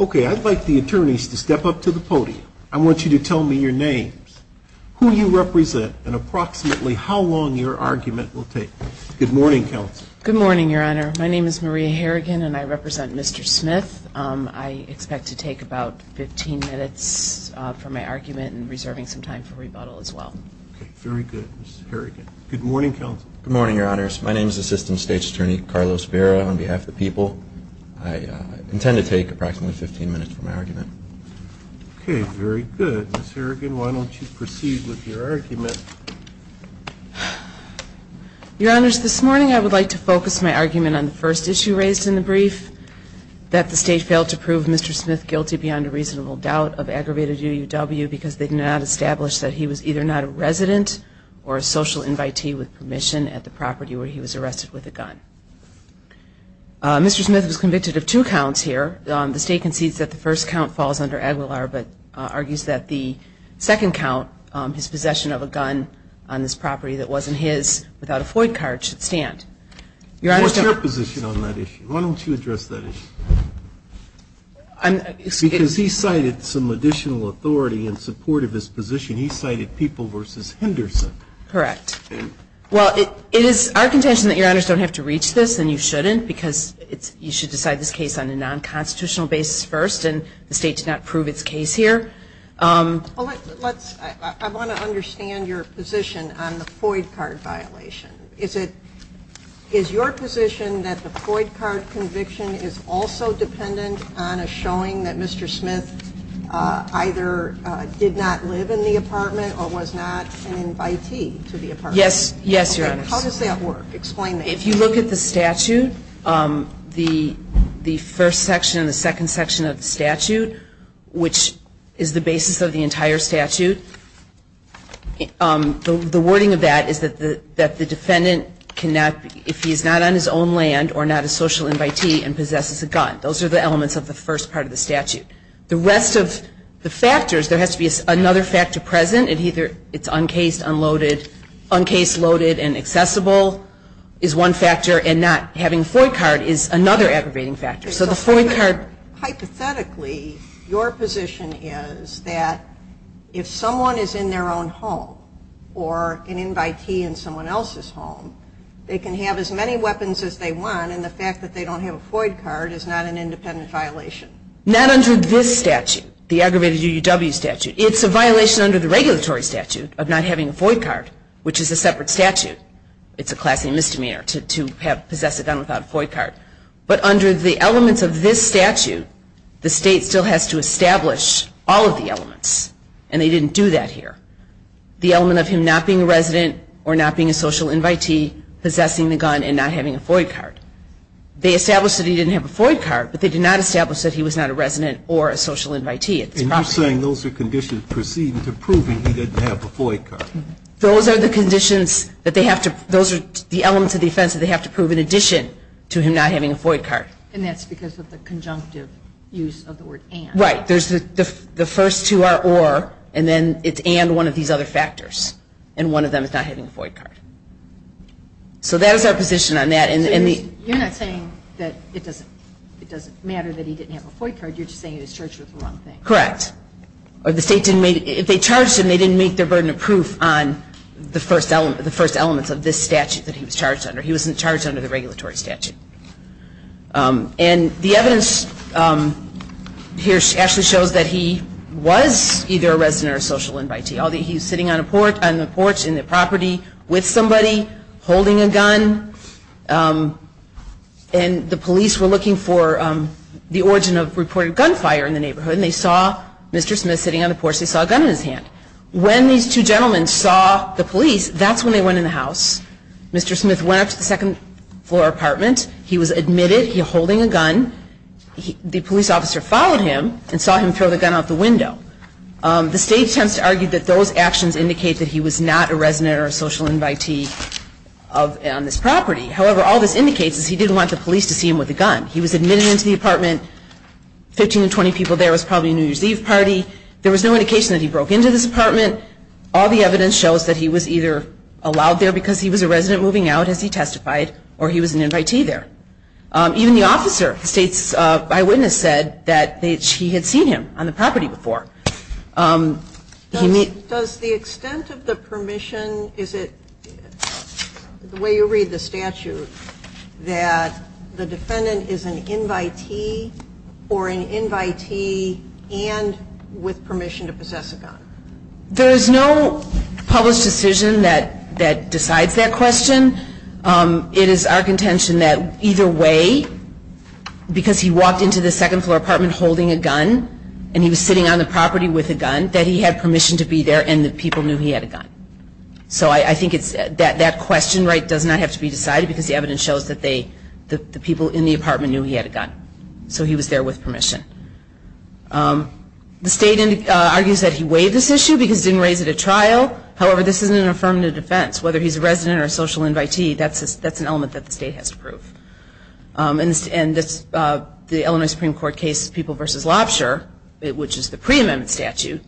Okay, I'd like the attorneys to step up to the podium. I want you to tell me your names, who you represent, and approximately how long your argument will take. Good morning, Counsel. Good morning, Your Honor. My name is Maria Harrigan and I represent Mr. Smith. I expect to take about 15 minutes for my argument and reserving some time for rebuttal as well. Okay, very good, Ms. Harrigan. Good morning, Counsel. Good morning, Your Honors. My name is Assistant State's Attorney Carlos Vera on behalf of the people. I intend to take approximately 15 minutes for my argument. Okay, very good. Ms. Harrigan, why don't you proceed with your argument. Your Honors, this morning I would like to focus my argument on the first issue raised in the brief, that the State failed to prove Mr. Smith guilty beyond a reasonable doubt of aggravated UUW because they did not establish that he was either not a resident or a social invitee with permission. At the property where he was arrested with a gun. Mr. Smith was convicted of two counts here. The State concedes that the first count falls under Aguilar but argues that the second count, his possession of a gun on this property that wasn't his without a FOIA card, should stand. What's your position on that issue? Why don't you address that issue? Because he cited some additional authority in support of his position. He cited People v. Henderson. Correct. Well, it is our contention that Your Honors don't have to reach this and you shouldn't because you should decide this case on a non-constitutional basis first and the State did not prove its case here. I want to understand your position on the FOIA card violation. Is your position that the FOIA card conviction is also dependent on a showing that Mr. Smith either did not live in the apartment or was not an invitee to the apartment? Yes, Your Honors. How does that work? Explain that. If you look at the statute, the first section and the second section of the statute, which is the basis of the entire statute, the wording of that is that the defendant cannot, if he is not on his own land or not a social invitee and possesses a gun. Those are the elements of the first part of the statute. The rest of the factors, there has to be another factor present and either it's uncased, unloaded, uncased, loaded and accessible is one factor and not having a FOIA card is another aggravating factor. Hypothetically, your position is that if someone is in their own home or an invitee in someone else's home, they can have as many weapons as they want and the fact that they don't have a FOIA card is not an independent violation. Not under this statute, the aggravated UUW statute. It's a violation under the regulatory statute of not having a FOIA card, which is a separate statute. It's a class A misdemeanor to possess a gun without a FOIA card. But under the elements of this statute, the state still has to establish all of the elements and they didn't do that here. The element of him not being a resident or not being a social invitee, possessing the gun and not having a FOIA card. They established that he didn't have a FOIA card, but they did not establish that he was not a resident or a social invitee. And you're saying those are conditions proceeding to proving he didn't have a FOIA card. Those are the conditions that they have to, those are the elements of the offense that they have to prove in addition to him not having a FOIA card. And that's because of the conjunctive use of the word and. You're not saying that it doesn't matter that he didn't have a FOIA card, you're just saying he was charged with the wrong thing. Correct. Or the state didn't, if they charged him, they didn't make their burden of proof on the first element, the first elements of this statute that he was charged under. He wasn't charged under the regulatory statute. And the evidence here actually shows that he was either a resident or a social invitee. He was sitting on a porch in the property with somebody holding a gun and the police were looking for the origin of reported gunfire in the neighborhood. And they saw Mr. Smith sitting on the porch, they saw a gun in his hand. When these two gentlemen saw the police, that's when they went in the house. Mr. Smith went up to the second floor apartment. He was admitted, he was holding a gun. The police officer followed him and saw him throw the gun out the window. The state tends to argue that those actions indicate that he was not a resident or a social invitee on this property. However, all this indicates is he didn't want the police to see him with a gun. He was admitted into the apartment, 15 to 20 people there, it was probably a New Year's Eve party. There was no indication that he broke into this apartment. All the evidence shows that he was either allowed there because he was a resident moving out, as he testified, or he was an invitee there. Even the officer, the state's eyewitness, said that she had seen him on the property before. Does the extent of the permission, is it the way you read the statute, that the defendant is an invitee or an invitee and with permission to possess a gun? There is no published decision that decides that question. It is our contention that either way, because he walked into the second floor apartment holding a gun, and he was sitting on the property with a gun, that he had permission to be there and the people knew he had a gun. So I think that question does not have to be decided because the evidence shows that the people in the apartment knew he had a gun. So he was there with permission. The state argues that he waived this issue because he didn't raise it at trial. However, this isn't an affirmative defense. Whether he's a resident or a social invitee, that's an element that the state has to prove. And the Illinois Supreme Court case, People v. Lobsher, which is the pre-amendment statute,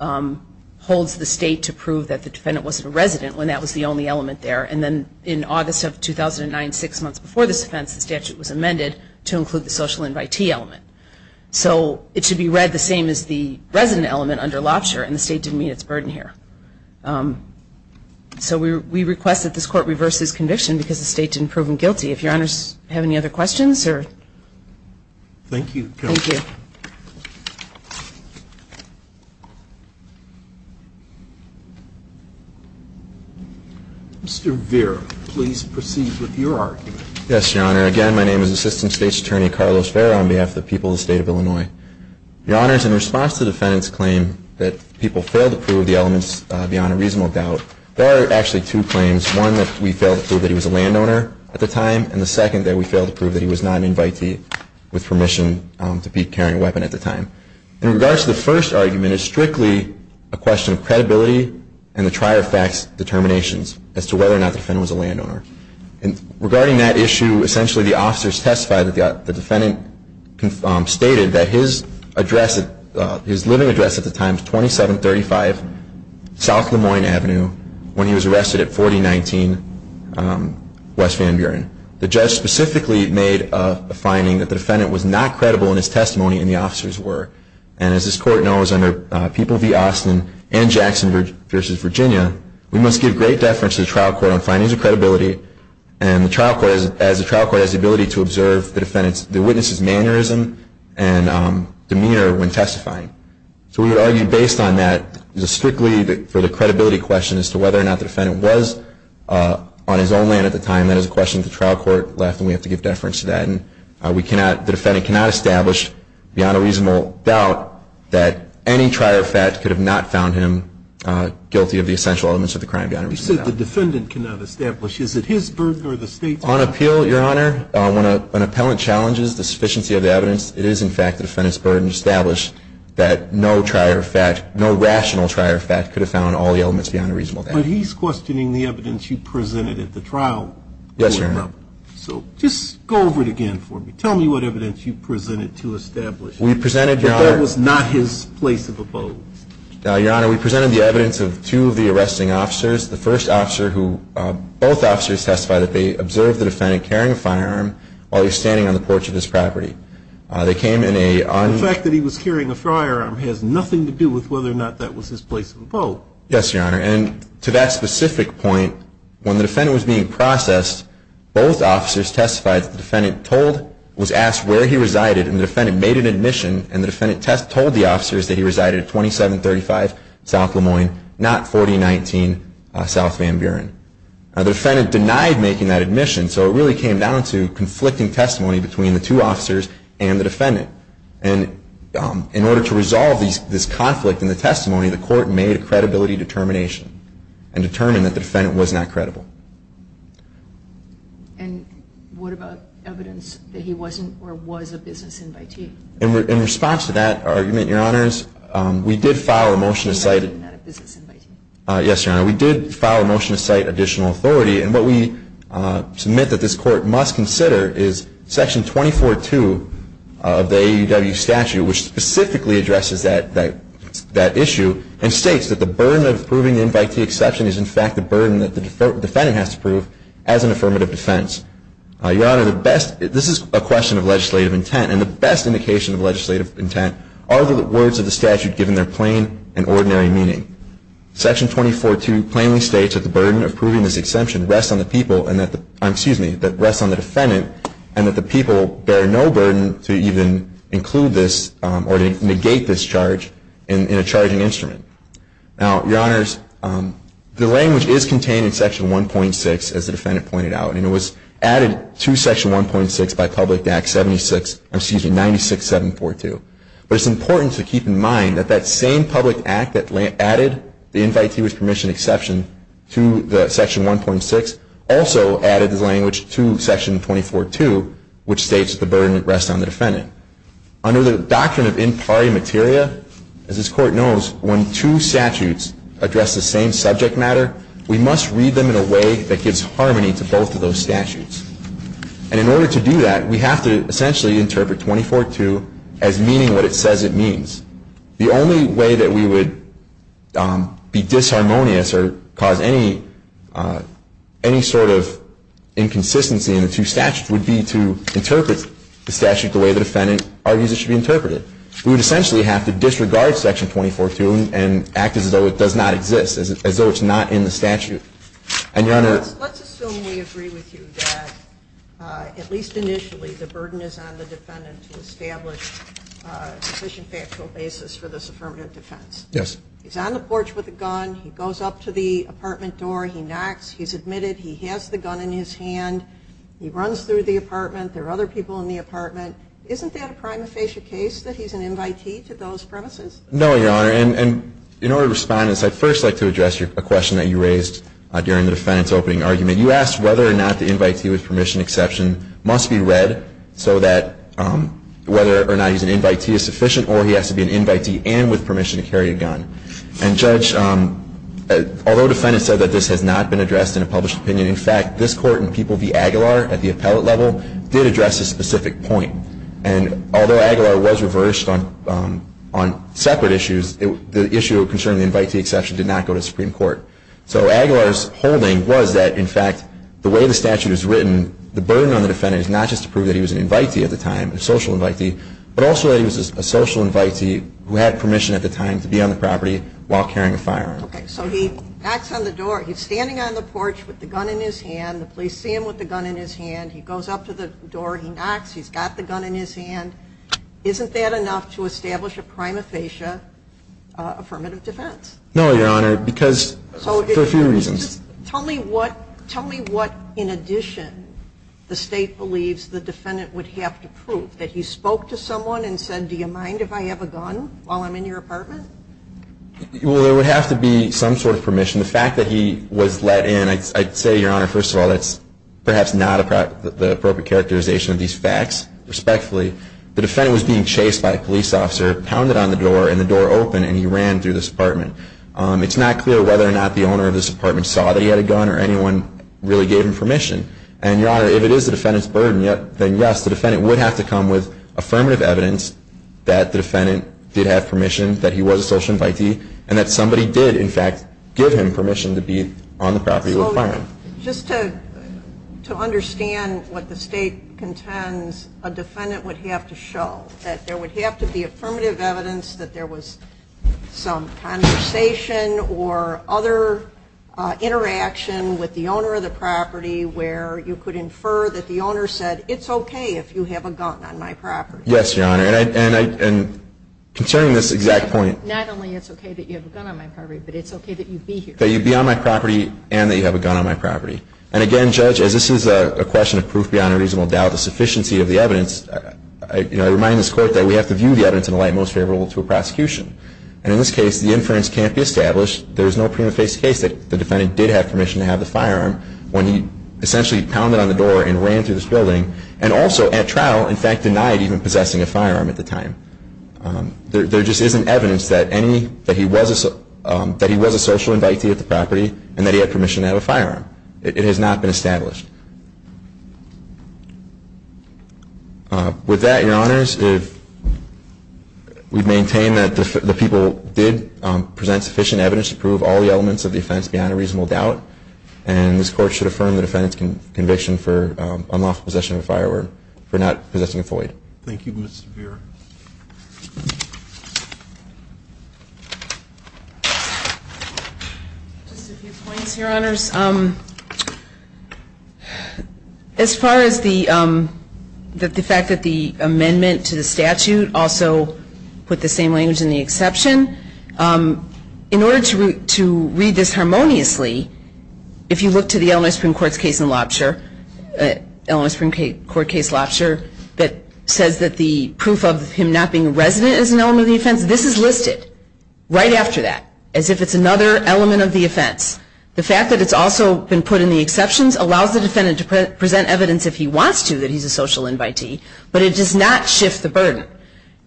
holds the state to prove that the defendant wasn't a resident when that was the only element there. And then in August of 2009, six months before this offense, the statute was amended to include the social invitee element. So it should be read the same as the resident element under Lobsher, and the state didn't meet its burden here. So we request that this court reverse this conviction because the state didn't prove him guilty. If Your Honors have any other questions? Thank you, Counsel. Thank you. Mr. Vera, please proceed with your argument. Yes, Your Honor. Again, my name is Assistant State's Attorney Carlos Vera on behalf of the people of the state of Illinois. Your Honors, in response to the defendant's claim that people failed to prove the elements beyond a reasonable doubt, there are actually two claims, one that we failed to prove that he was a landowner at the time, and the second that we failed to prove that he was not an invitee with permission to be carrying a weapon at the time. In regards to the first argument, it's strictly a question of credibility and the trier-of-facts determinations as to whether or not the defendant was a landowner. And regarding that issue, essentially the officers testified that the defendant stated that his address, his living address at the time was 2735 South LeMoyne Avenue when he was arrested at 4019 West Van Buren. The judge specifically made a finding that the defendant was not credible in his testimony and the officers were. And as this court knows, under People v. Austin and Jackson v. Virginia, we must give great deference to the trial court on findings of credibility, and the trial court, as the trial court has the ability to observe the defendant's, the witness's mannerism and demeanor when testifying. So we would argue based on that, strictly for the credibility question as to whether or not the defendant was on his own land at the time, that is a question that the trial court left and we have to give deference to that. And we cannot, the defendant cannot establish beyond a reasonable doubt that any trier-of-facts could have not found him guilty of the essential elements of the crime. You said the defendant cannot establish. Is it his burden or the state's burden? On appeal, Your Honor, when an appellant challenges the sufficiency of the evidence, it is in fact the defendant's burden to establish that no trier-of-fact, no rational trier-of-fact could have found all the elements beyond a reasonable doubt. But he's questioning the evidence you presented at the trial court. Yes, Your Honor. So just go over it again for me. Tell me what evidence you presented to establish that that was not his place of abode. Your Honor, we presented the evidence of two of the arresting officers. The first officer who, both officers testified that they observed the defendant carrying a firearm while he was standing on the porch of his property. They came in a... The fact that he was carrying a firearm has nothing to do with whether or not that was his place of abode. Yes, Your Honor. And to that specific point, when the defendant was being processed, both officers testified that the defendant told, was asked where he resided and the defendant made an admission and the defendant told the officers that he resided at 2735 South Lemoyne, not 4019 South Van Buren. The defendant denied making that admission, so it really came down to conflicting testimony between the two officers and the defendant. And in order to resolve this conflict in the testimony, the court made a credibility determination and determined that the defendant was not credible. And what about evidence that he wasn't or was a business invitee? In response to that argument, Your Honors, we did file a motion to cite... Not a business invitee. Yes, Your Honor. We did file a motion to cite additional authority, and what we submit that this court must consider is Section 24-2 of the AUW statute, which specifically addresses that issue and states that the burden of proving the invitee exception is in fact the burden that the defendant has to prove as an affirmative defense. Your Honor, the best... of the statute given their plain and ordinary meaning. Section 24-2 plainly states that the burden of proving this exception rests on the people and that the... excuse me, that rests on the defendant and that the people bear no burden to even include this or to negate this charge in a charging instrument. Now, Your Honors, the language is contained in Section 1.6 as the defendant pointed out. And it was added to Section 1.6 by Public Act 76... excuse me, 96-742. But it's important to keep in mind that that same public act that added the invitee with permission exception to the Section 1.6 also added this language to Section 24-2, which states that the burden rests on the defendant. Under the doctrine of in pari materia, as this Court knows, when two statutes address the same subject matter, we must read them in a way that gives harmony to both of those statutes. And in order to do that, we have to essentially interpret 24-2 as meaning what it says it means. The only way that we would be disharmonious or cause any sort of inconsistency in the two statutes would be to interpret the statute the way the defendant argues it should be interpreted. We would essentially have to disregard Section 24-2 and act as though it does not exist, as though it's not in the statute. And, Your Honor. Let's assume we agree with you that, at least initially, the burden is on the defendant to establish a sufficient factual basis for this affirmative defense. Yes. He's on the porch with a gun. He goes up to the apartment door. He knocks. He's admitted. He has the gun in his hand. He runs through the apartment. There are other people in the apartment. Isn't that a prima facie case that he's an invitee to those premises? No, Your Honor. And in order to respond to this, I'd first like to address a question that you raised during the defendant's opening argument. You asked whether or not the invitee with permission exception must be read so that whether or not he's an invitee is sufficient or he has to be an invitee and with permission to carry a gun. And, Judge, although the defendant said that this has not been addressed in a published opinion, in fact, this Court in People v. Aguilar at the appellate level did address a specific point. And although Aguilar was reversed on separate issues, the issue concerning the invitee exception did not go to Supreme Court. So Aguilar's holding was that, in fact, the way the statute is written, the burden on the defendant is not just to prove that he was an invitee at the time, a social invitee, but also that he was a social invitee who had permission at the time to be on the property while carrying a firearm. Okay. So he knocks on the door. He's standing on the porch with the gun in his hand. The police see him with the gun in his hand. He goes up to the door. He knocks. He's got the gun in his hand. Isn't that enough to establish a prima facie affirmative defense? No, Your Honor, because for a few reasons. Tell me what in addition the State believes the defendant would have to prove, that he spoke to someone and said, do you mind if I have a gun while I'm in your apartment? Well, there would have to be some sort of permission. The fact that he was let in, I'd say, Your Honor, first of all, that's perhaps not the appropriate characterization of these facts, respectfully. The defendant was being chased by a police officer, pounded on the door, and the door opened, and he ran through this apartment. It's not clear whether or not the owner of this apartment saw that he had a gun or anyone really gave him permission. And, Your Honor, if it is the defendant's burden, then yes, the defendant would have to come with affirmative evidence that the defendant did have permission, that he was a social invitee, and that somebody did, in fact, give him permission to be on the property with a firearm. Well, just to understand what the State contends, a defendant would have to show that there would have to be affirmative evidence that there was some conversation or other interaction with the owner of the property where you could infer that the owner said, it's okay if you have a gun on my property. Yes, Your Honor. And concerning this exact point. Not only it's okay that you have a gun on my property, but it's okay that you be here. That you be on my property and that you have a gun on my property. And again, Judge, as this is a question of proof beyond a reasonable doubt, the sufficiency of the evidence, I remind this Court that we have to view the evidence in a light most favorable to a prosecution. And in this case, the inference can't be established. There is no prima facie case that the defendant did have permission to have the firearm when he essentially pounded on the door and ran through this building, and also at trial, in fact, denied even possessing a firearm at the time. There just isn't evidence that he was a social invitee at the property and that he had permission to have a firearm. It has not been established. With that, Your Honors, we maintain that the people did present sufficient evidence to prove all the elements of the offense beyond a reasonable doubt. And this Court should affirm the defendant's conviction for unlawful possession of a firearm for not possessing a Floyd. Thank you, Mr. Vera. Just a few points, Your Honors. As far as the fact that the amendment to the statute also put the same language in the exception, in order to read this harmoniously, if you look to the Illinois Supreme Court's case in Lobster, Illinois Supreme Court case Lobster, that says that the proof of him not being a resident is an element of the offense, this is listed right after that, as if it's another element of the offense. The fact that it's also been put in the exceptions allows the defendant to present evidence if he wants to that he's a social invitee, but it does not shift the burden.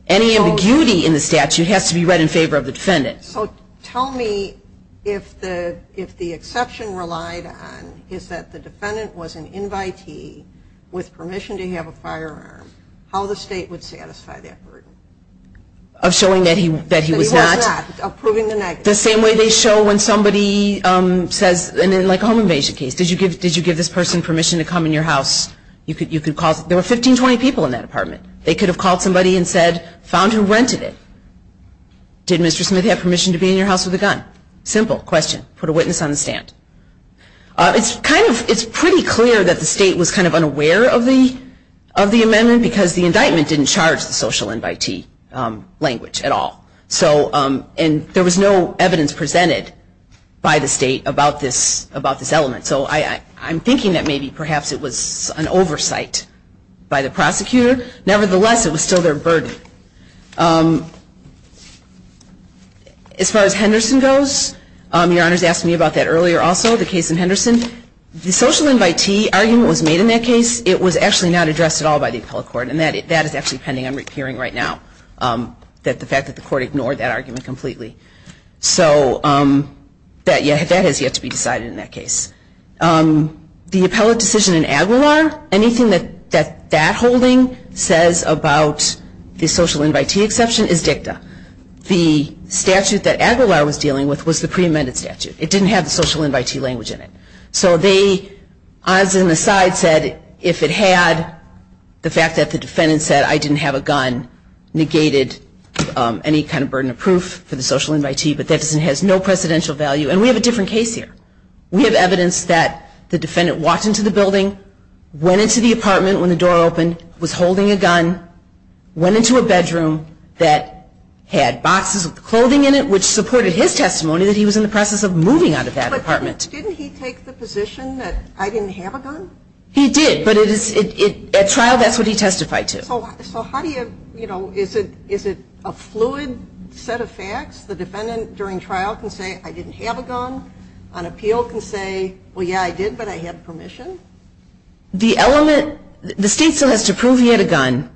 Any ambiguity in the statute has to be read in favor of the defendant. So tell me if the exception relied on is that the defendant was an invitee with permission to have a firearm, how the state would satisfy that burden? Of showing that he was not? That he was not. Of proving the negative. The same way they show when somebody says, in like a home invasion case, did you give this person permission to come in your house? There were 15, 20 people in that apartment. They could have called somebody and said, found who rented it. Did Mr. Smith have permission to be in your house with a gun? Simple question. Put a witness on the stand. It's pretty clear that the state was kind of unaware of the amendment because the indictment didn't charge the social invitee language at all. And there was no evidence presented by the state about this element. So I'm thinking that maybe perhaps it was an oversight by the prosecutor. Nevertheless, it was still their burden. As far as Henderson goes, your Honor's asked me about that earlier also, the case in Henderson. The social invitee argument was made in that case. It was actually not addressed at all by the appellate court. And that is actually pending on hearing right now, that the fact that the court ignored that argument completely. So that has yet to be decided in that case. The appellate decision in Aguilar, anything that that holding says about the social invitee exception is dicta. The statute that Aguilar was dealing with was the pre-amended statute. It didn't have the social invitee language in it. So they, odds and the sides said if it had the fact that the defendant said, I didn't have a gun, negated any kind of burden of proof for the social invitee. But that has no precedential value. And we have a different case here. We have evidence that the defendant walked into the building, went into the apartment when the door opened, was holding a gun, went into a bedroom that had boxes with clothing in it, which supported his testimony that he was in the process of moving out of that apartment. But didn't he take the position that I didn't have a gun? He did. But at trial, that's what he testified to. So how do you, you know, is it a fluid set of facts? The defendant during trial can say, I didn't have a gun. On appeal can say, well, yeah, I did, but I had permission. The element, the state still has to prove he had a gun.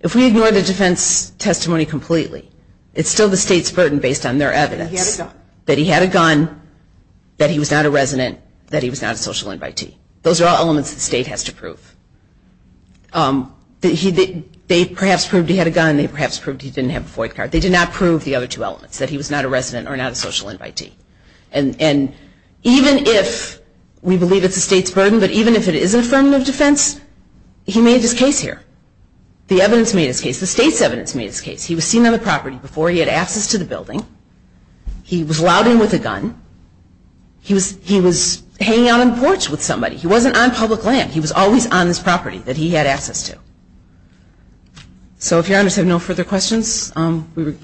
If we ignore the defense testimony completely, it's still the state's burden based on their evidence. He had a gun. That he had a gun, that he was not a resident, that he was not a social invitee. Those are all elements the state has to prove. They perhaps proved he had a gun. They perhaps proved he didn't have a FOIA card. They did not prove the other two elements, that he was not a resident or not a social invitee. And even if we believe it's the state's burden, but even if it is an affirmative defense, he made his case here. The evidence made his case. The state's evidence made his case. He was seen on the property before he had access to the building. He was allowed in with a gun. He was hanging out on the porch with somebody. He wasn't on public land. He was always on his property that he had access to. So if your honors have no further questions, we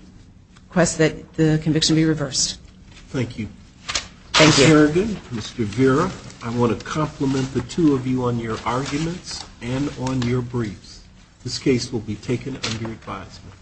request that the conviction be reversed. Thank you. Thank you. Ms. Harrigan, Mr. Vera, I want to compliment the two of you on your arguments and on your briefs. This case will be taken under advisement.